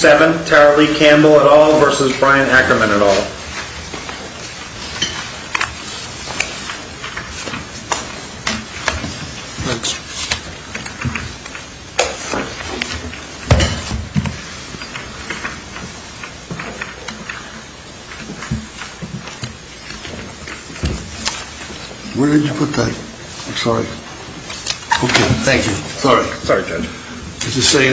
at all? Where did you put that? I'm sorry. Okay. Thank you. Sorry. Sorry, judge. I just want to thank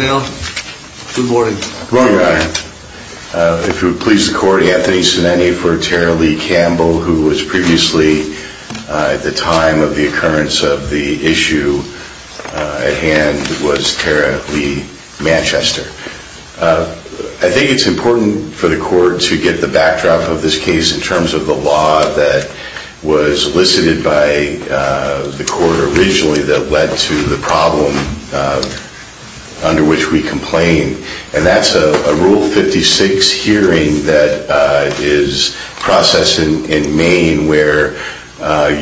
you for that. I think it's important for the court to get the backdrop of this case in terms of the law that was elicited by the court originally that led to the problem under which we complain. And that's a Rule 56 hearing that is processed in Maine where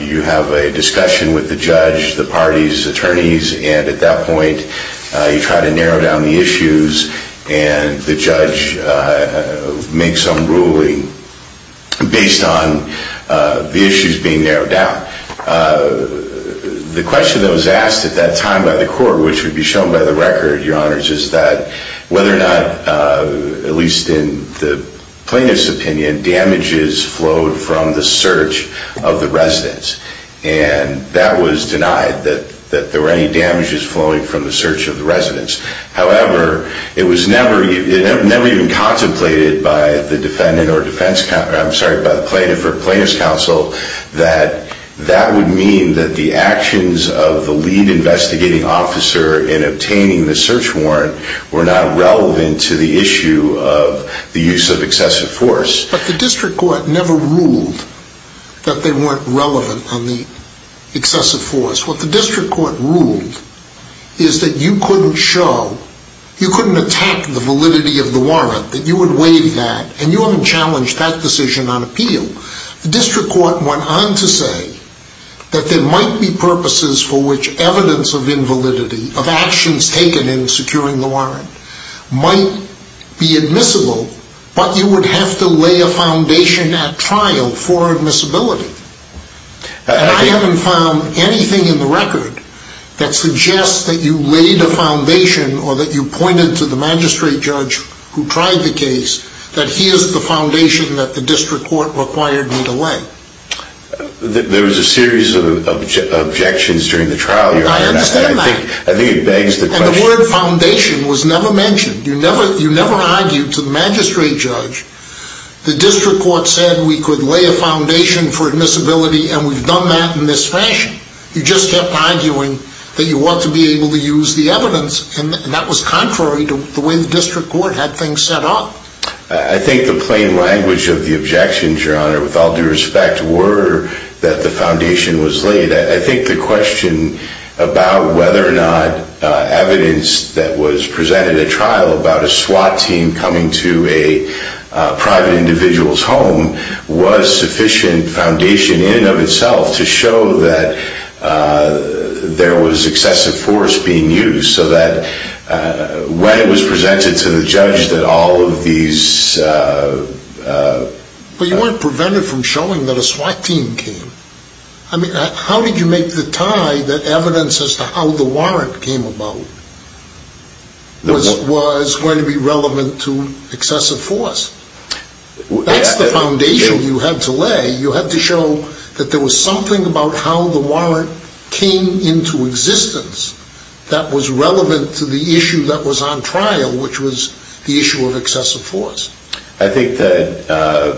you have a discussion with the judge, the parties, attorneys, and at that point you try to narrow down the issues and the judge makes some ruling based on the issues being discussed. And you have to have a foundation at trial for admissibility. I haven't found anything in the record that suggests that you laid a foundation or that you pointed to the magistrate judge who tried the case that he is the foundation that the district court required him to lay. There was a series of objections during the trial. I understand that. And the word foundation was never mentioned. You never argued to the magistrate judge. The district court said we could lay a foundation for admissibility and we've done that in this fashion. You just kept arguing that you want to be able to use the evidence and that was contrary to the way the district court had things set up. I think the plain language of the objections, your honor, with all due respect, were that the foundation was laid. I think the question about whether or not evidence that was presented at trial about a SWAT team coming to a private individual's home was sufficient foundation in and of itself to show that there was excessive force being used. So that when it was presented to the judge that all of these. But you weren't prevented from showing that a SWAT team came. I mean how did you make the tie that evidence as to how the warrant came about was going to be relevant to excessive force? That's the foundation you had to lay. You had to show that there was something about how the warrant came into existence that was relevant to the issue that was on trial, which was the issue of excessive force. I think that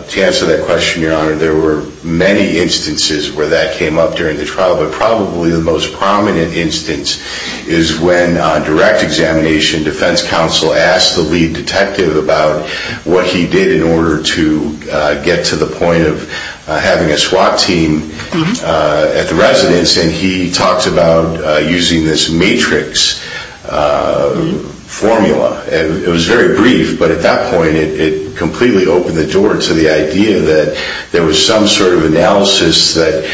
to answer that question, your honor, there were many instances where that came up during the trial, but probably the most prominent instance is when on direct examination defense counsel asked the lead detective about what he did in order to get to the point of having a SWAT team at the residence and he talked about using this matrix formula. It was very brief, but at that point it completely opened the door to the idea that there was some sort of analysis that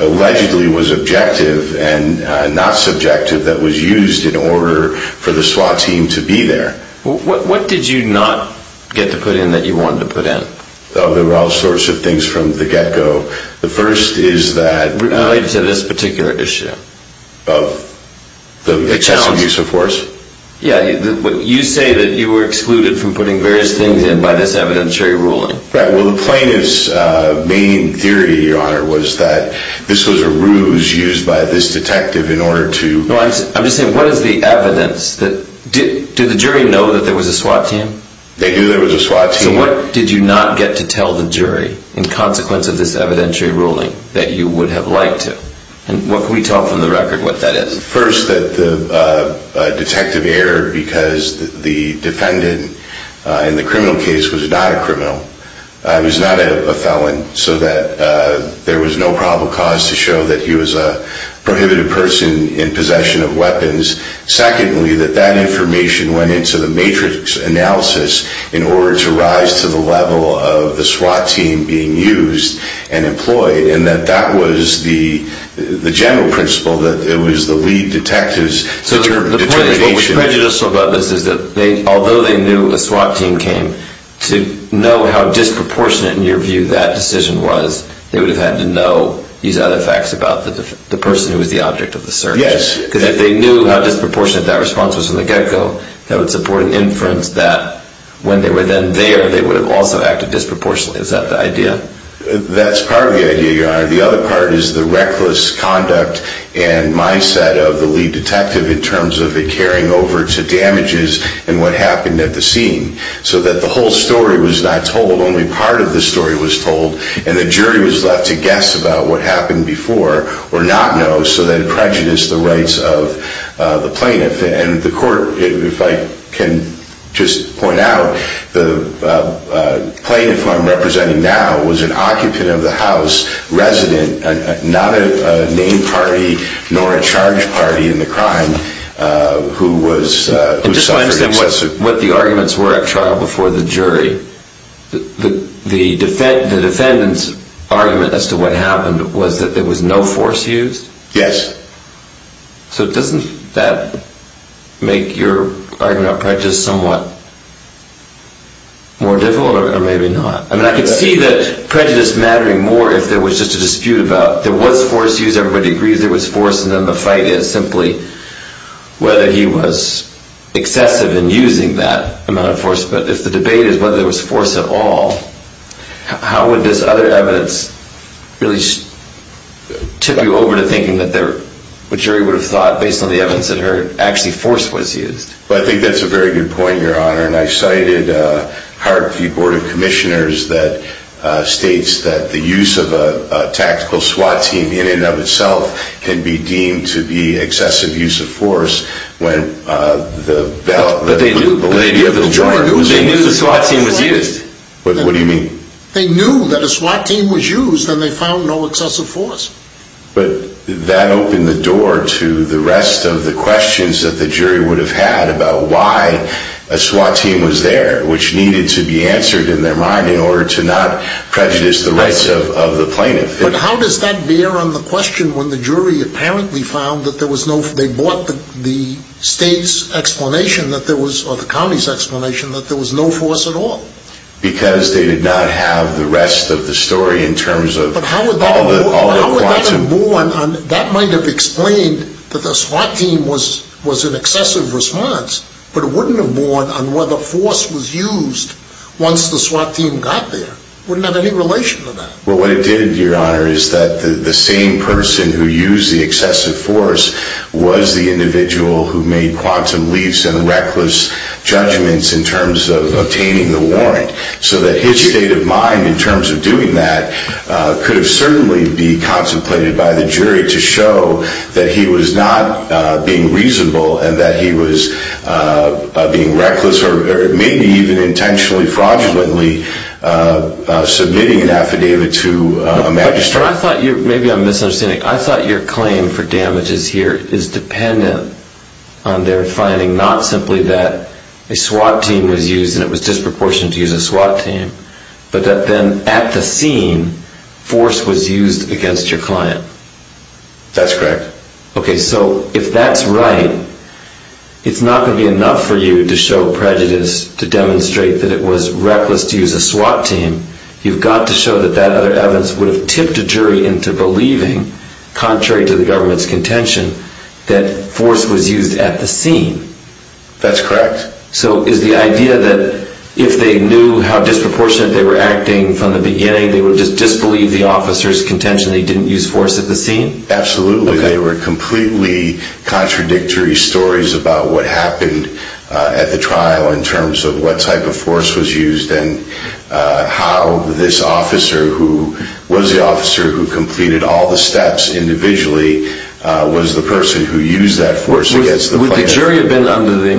allegedly was objective and not subjective that was used in order for the SWAT team to be there. What did you not get to put in that you wanted to put in? There were all sorts of things from the get-go. The first is that... Related to this particular issue of the excessive use of force? Yeah, you say that you were excluded from putting various things in by this evidentiary ruling. Well, the plaintiff's main theory, your honor, was that this was a ruse used by this detective in order to... I'm just saying, what is the evidence that... Did the jury know that there was a SWAT team? They knew there was a SWAT team. So what did you not get to tell the jury in consequence of this evidentiary ruling that you would have liked to? And what can we tell from the record what that is? First, that the detective erred because the defendant in the criminal case was not a criminal. He's not a felon, so that there was no probable cause to show that he was a prohibited person in possession of weapons. Secondly, that that information went into the matrix analysis in order to rise to the level of the SWAT team being used and employed, and that that was the general principle, that it was the lead detective's determination. So the point is, what was prejudicial about this is that although they knew a SWAT team came, to know how disproportionate, in your view, that decision was, they would have had to know these other facts about the person who was the object of the search. Yes. Because if they knew how when they were then there, they would have also acted disproportionately. Is that the idea? That's part of the idea, Your Honor. The other part is the reckless conduct and mindset of the lead detective in terms of it carrying over to damages and what happened at the scene. So that the whole story was not told, only part of the story was told, and the jury was left to guess about what happened before, or not know, so that it prejudiced the rights of the plaintiff. And the court, if I can just point out, the plaintiff I'm representing now was an occupant of the house, resident, not a named party nor a charge party in the crime, who was suffering excessive... And just so I understand what the arguments were at trial before the jury, the defendant's argument as to what happened was that there was a dispute about that. So doesn't that make your argument about prejudice somewhat more difficult, or maybe not? I mean, I could see that prejudice mattering more if there was just a dispute about there was force used, everybody agrees there was force, and then the fight is simply whether he was excessive in using that amount of force. But if the debate is whether there was force at all, how would this other evidence really tip you over to thinking that the jury would have thought, based on the evidence it heard, actually force was used? I think that's a very good point, Your Honor, and I cited Hart v. Board of Commissioners that states that the use of a tactical SWAT team in and of itself can be deemed to be excessive use of force when the lady of the joint... But they knew the SWAT team was used. What do you mean? They knew that a SWAT team was used and they found no excessive force. But that opened the door to the rest of the questions that the jury would have had about why a SWAT team was there, which needed to be answered in their mind in order to not prejudice the rights of the plaintiff. But how does that bear on the question when the jury apparently found that there was no force? They bought the state's explanation that there was, or the county's explanation, that there was no force at all. Because they did not have the rest of the story in terms of... But how would that have borne on... That might have explained that the SWAT team was an excessive response, but it wouldn't have borne on whether force was used once the SWAT team got there. It wouldn't have any relation to that. Well, what it did, Your Honor, is that the same person who used the excessive force was the individual who made quantum leaps and reckless judgments in terms of obtaining the warrant. So that his state of mind in terms of doing that could have certainly be contemplated by the jury to show that he was not being reasonable and that he was being reckless or maybe even intentionally, fraudulently submitting an affidavit to a magistrate. But I thought you... Maybe I'm misunderstanding. I thought your claim for use, and it was disproportionate to use a SWAT team, but that then at the scene, force was used against your client. That's correct. Okay, so if that's right, it's not going to be enough for you to show prejudice to demonstrate that it was reckless to use a SWAT team. You've got to show that that other evidence would have tipped a jury into believing, contrary to the government's contention, that force was used at the scene. That's correct. So is the idea that if they knew how disproportionate they were acting from the beginning, they would just disbelieve the officer's contention that he didn't use force at the scene? Absolutely. They were completely contradictory stories about what happened at the trial in terms of what type of force was used and how this officer, who was the officer who completed all the steps individually, was the person who used that force against the client. Would the jury have been under the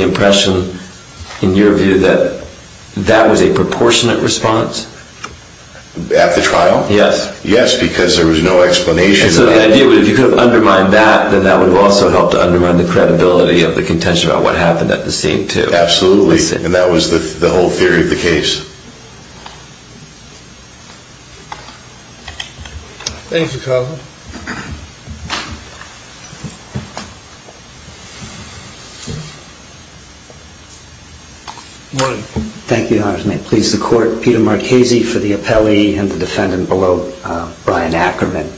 impression, in your view, that that was a proportionate response? At the trial? Yes. Yes, because there was no explanation. So the idea would have been if you could have undermined that, then that would have also helped to undermine the credibility of the contention about what happened at the scene, too. Absolutely. And that was the whole point. Thank you, Your Honor. May it please the Court. Peter Marchese for the appellee and the defendant below, Brian Ackerman.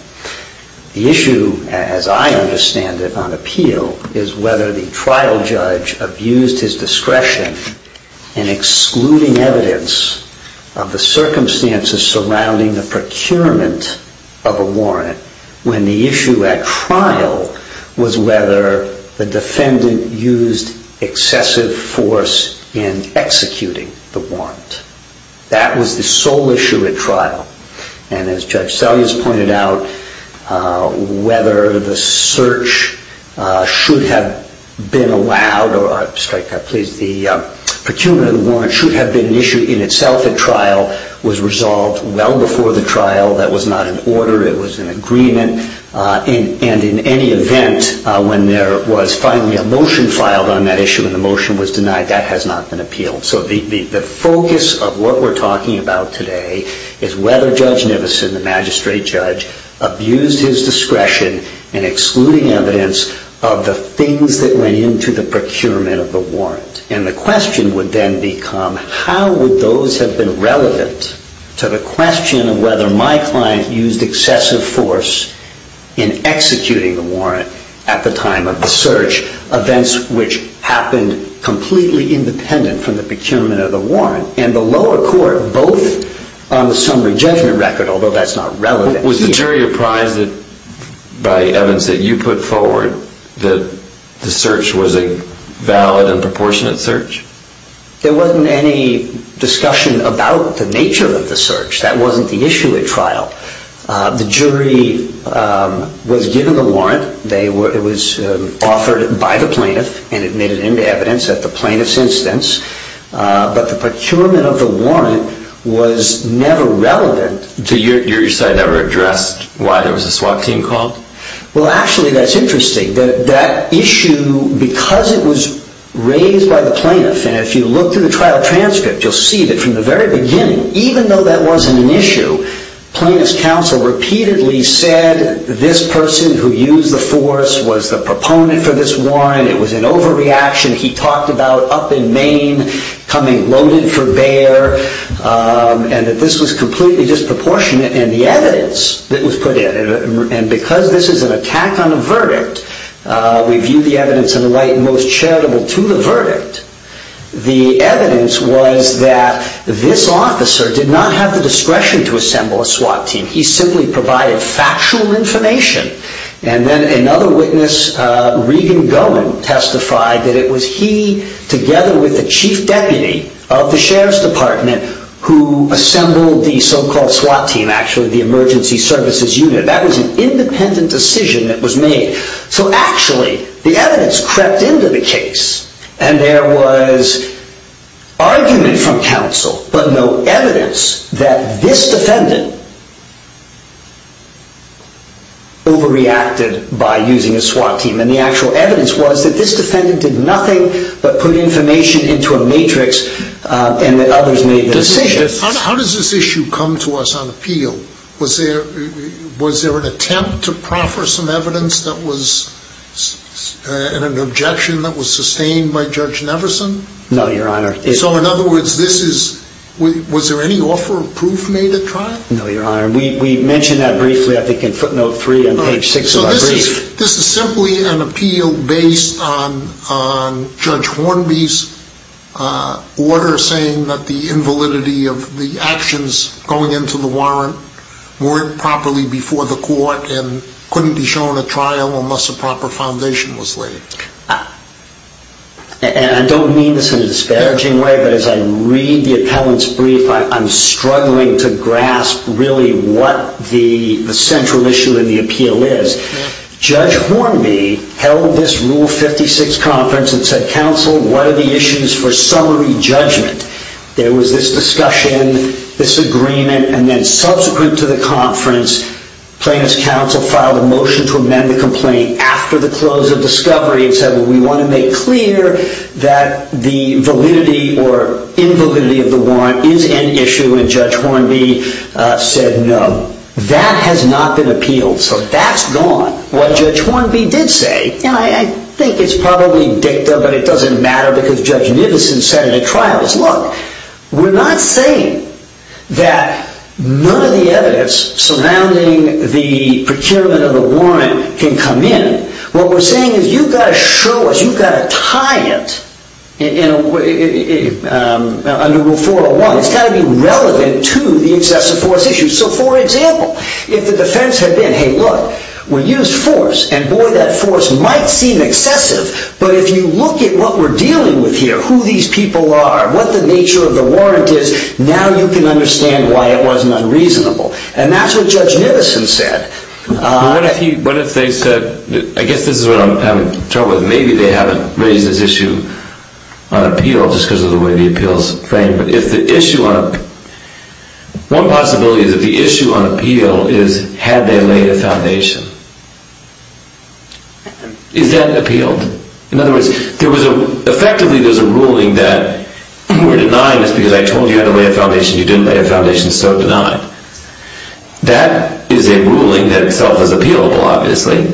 The issue, as I understand it on appeal, is whether the trial judge abused his discretion in excluding evidence of the circumstances surrounding the procurement of a warrant when the issue at trial was whether the defendant used excessive force in executing the warrant. That was the sole issue at trial. And as Judge Selyas pointed out, whether the search should have been allowed, or the procurement of the warrant should have been an issue in itself at trial, was resolved well before the trial. That was not an order. It was an agreement. And in any event, when there was finally a motion filed on that issue and the motion was denied, that has not been appealed. So the focus of what we're talking about today is whether Judge Nivisen, the magistrate judge, abused his discretion in excluding evidence of the things that went into the procurement of the warrant. And the question is, how would those have been relevant to the question of whether my client used excessive force in executing the warrant at the time of the search, events which happened completely independent from the procurement of the warrant, and the lower court, both on the summary judgment record, although that's not relevant here. Was the jury apprised by evidence that you put forward that the search was a valid and proportionate search? There wasn't any discussion about the nature of the search. That wasn't the issue at trial. The jury was given the warrant. It was offered by the plaintiff and admitted into evidence at the plaintiff's instance. But the procurement of the warrant was never relevant. So your side never addressed why there was a SWAT team called? Well, actually, that's interesting. That issue, because it was raised by the plaintiff, and if you look through the trial transcript, you'll see that from the very beginning, even though that wasn't an issue, plaintiff's counsel repeatedly said this person who used the force was the proponent for this warrant. It was an overreaction. He talked about up in Maine coming loaded for bear, and that this was completely disproportionate in the evidence that was put in. And because this is an attack on the verdict, we viewed the evidence in the light most charitable to the verdict. The evidence was that this officer did not have the discretion to assemble a SWAT team. He simply provided factual information. And then another witness, Regan Gowen, testified that it was he, together with the chief deputy of the Sheriff's Department, who assembled the so-called SWAT team, actually, the emergency services unit. That was an independent decision that was made. So actually, the evidence crept into the case, and there was argument from counsel, but no evidence that this defendant overreacted by using a SWAT team. And the actual evidence was that this defendant did nothing but put information into a matrix, and that others made decisions. How does this issue come to us on appeal? Was there an attempt to proffer some evidence that was an objection that was sustained by Judge Neverson? No, Your Honor. So in other words, was there any offer of proof made at trial? No, Your Honor. We mentioned that briefly, I think, in footnote three on page six of our brief. This is simply an appeal based on Judge Hornby's order saying that the invalidity of the actions going into the warrant weren't properly before the court, and couldn't be shown at trial unless a proper foundation was laid. I don't mean this in a disparaging way, but as I read the appellant's brief, I'm Judge Hornby held this Rule 56 conference and said, counsel, what are the issues for summary judgment? There was this discussion, this agreement, and then subsequent to the conference, plaintiff's counsel filed a motion to amend the complaint after the close of discovery and said, well, we want to make clear that the validity or invalidity of the warrant is an issue, and Judge Hornby said no. That has not been appealed. So that's gone. What Judge Hornby did say, and I think it's probably dicta, but it doesn't matter, because Judge Nivisen said in the trials, look, we're not saying that none of the evidence surrounding the procurement of the warrant can come in. What we're saying is you've got to show us, you've got to tie it under Rule 401. It's got to be relevant to the excessive force issue. So for example, if the defense had been, hey, look, we used force, and boy, that force might seem excessive, but if you look at what we're dealing with here, who these people are, what the nature of the warrant is, now you can understand why it wasn't unreasonable. And that's what Judge Nivisen said. What if they said, I guess this is what I'm having trouble with, maybe they haven't raised this issue on appeal just because of the way the appeal's framed, but if the issue on appeal is had they laid a foundation? Is that appealed? In other words, effectively there's a ruling that we're denying this because I told you how to lay a foundation, you didn't lay a foundation, so it's denied. That is a ruling that itself is appealable, obviously.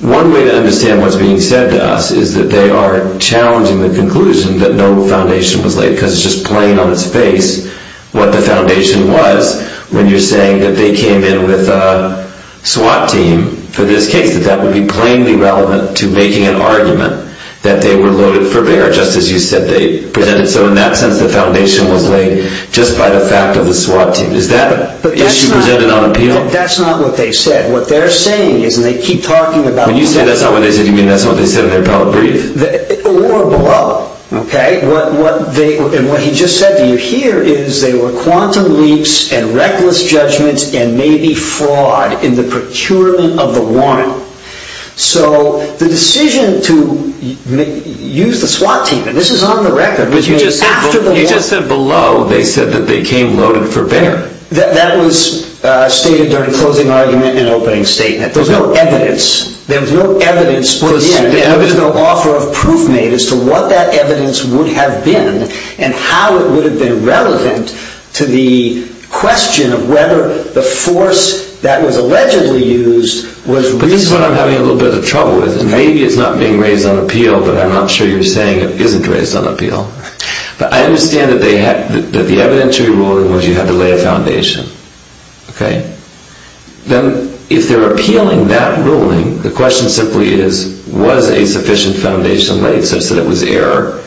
One way to understand what's being said to us is that they are challenging the conclusion that no foundation was laid because it's just plain on its face what the argument is when you're saying that they came in with a SWAT team for this case, that that would be plainly relevant to making an argument that they were loaded for bear, just as you said they presented. So in that sense, the foundation was laid just by the fact of the SWAT team. Is that issue presented on appeal? That's not what they said. What they're saying is, and they keep talking about... When you say that's not what they said, you mean that's not what they said in their appellate brief? Or below, okay? What he just said to you here is they were quantum leaps and reckless judgments and maybe fraud in the procurement of the warrant. So the decision to use the SWAT team, and this is on the record... But you just said below they said that they came loaded for bear. That was stated during the closing argument and opening statement. There was no evidence put in. There was no evidence put in as to what that evidence would have been and how it would have been relevant to the question of whether the force that was allegedly used was... But this is what I'm having a little bit of trouble with. Maybe it's not being raised on appeal, but I'm not sure you're saying it isn't raised on appeal. But I understand that the evidentiary ruling was you had to lay a foundation. Then if they're appealing that ruling, the question simply is, was a sufficient foundation laid such that it was error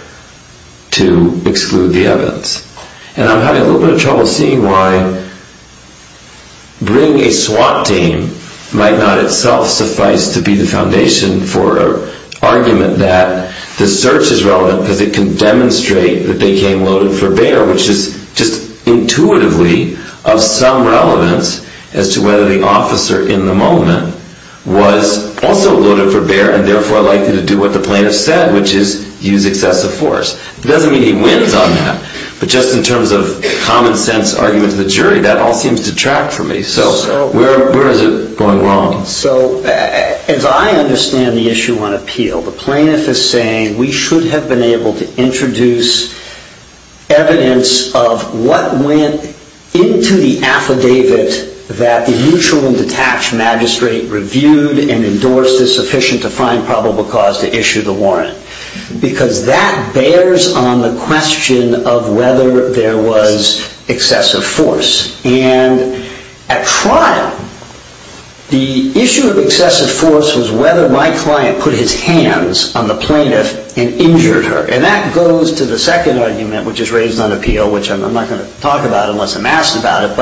to exclude the evidence? And I'm having a little bit of trouble seeing why bringing a SWAT team might not itself suffice to be the foundation for an argument that the search is relevant because it can demonstrate that they came loaded for bear, which is just intuitively of some relevance as to whether the officer in the moment was also loaded for bear and therefore likely to do what the plaintiff said, which is use excessive force. It doesn't mean he wins on that. But just in terms of common sense arguments of the jury, that all seems to detract from me. So where is it going wrong? So as I understand the issue on appeal, the plaintiff is saying we should have been able to introduce evidence of what went into the affidavit that the mutual and detached magistrate reviewed and endorsed as sufficient to find probable cause to issue the warrant because that bears on the question of whether there was excessive force. And at trial, the issue of excessive force was whether my client put his hands on the plaintiff and injured her. And that goes to the second argument, which is raised on appeal, which I'm not going to talk about unless I'm asked about it,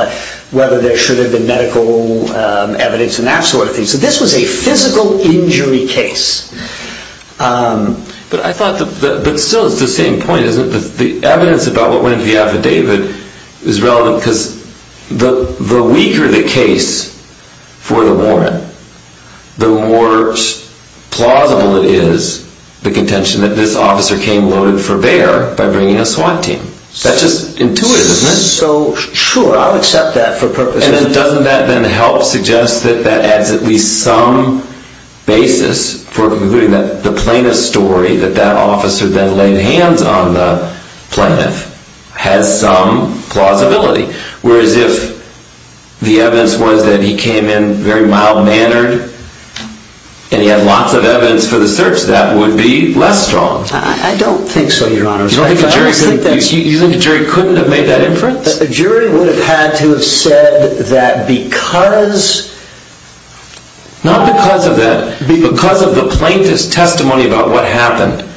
and that sort of thing. So this was a physical injury case. But I thought, but still it's the same point, isn't it? The evidence about what went into the affidavit is relevant because the weaker the case for the warrant, the more plausible it is the contention that this officer came loaded for bear by bringing a SWAT team. That's just intuitive, isn't it? Sure, I'll accept that for purposes of... And doesn't that then help suggest that that adds at least some basis for concluding that the plaintiff's story, that that officer then laid hands on the plaintiff, has some plausibility. Whereas if the evidence was that he came in very mild-mannered and he had lots of evidence for the search, that would be less strong. I don't think so, Your Honor. You don't think the jury couldn't have made that inference? Yes, the jury would have had to have said that because... Not because of that. Because of the plaintiff's testimony about what happened.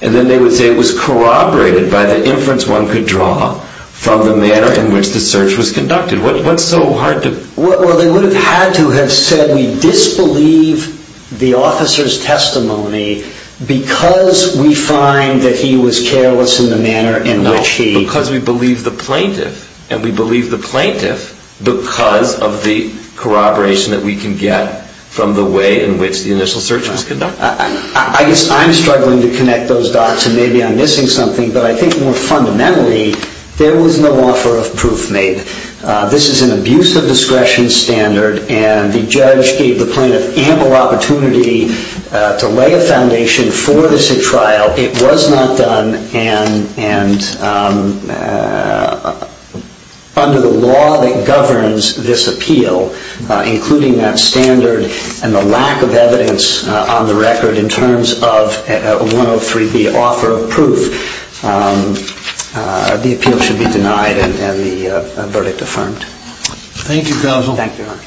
And then they would say it was corroborated by the inference one could draw from the manner in which the search was conducted. What's so hard to... Well, they would have had to have said we disbelieve the officer's testimony because we find that he was careless in the manner in which he... And we believe the plaintiff because of the corroboration that we can get from the way in which the initial search was conducted. I guess I'm struggling to connect those dots and maybe I'm missing something. But I think more fundamentally, there was no offer of proof made. This is an abuse of discretion standard and the judge gave the plaintiff ample opportunity to lay a foundation for this trial. It was not done and under the law that governs this appeal, including that standard and the lack of evidence on the record in terms of a 103B offer of proof, the appeal should be denied and the verdict affirmed. Thank you, Counsel. Thank you, Your Honor.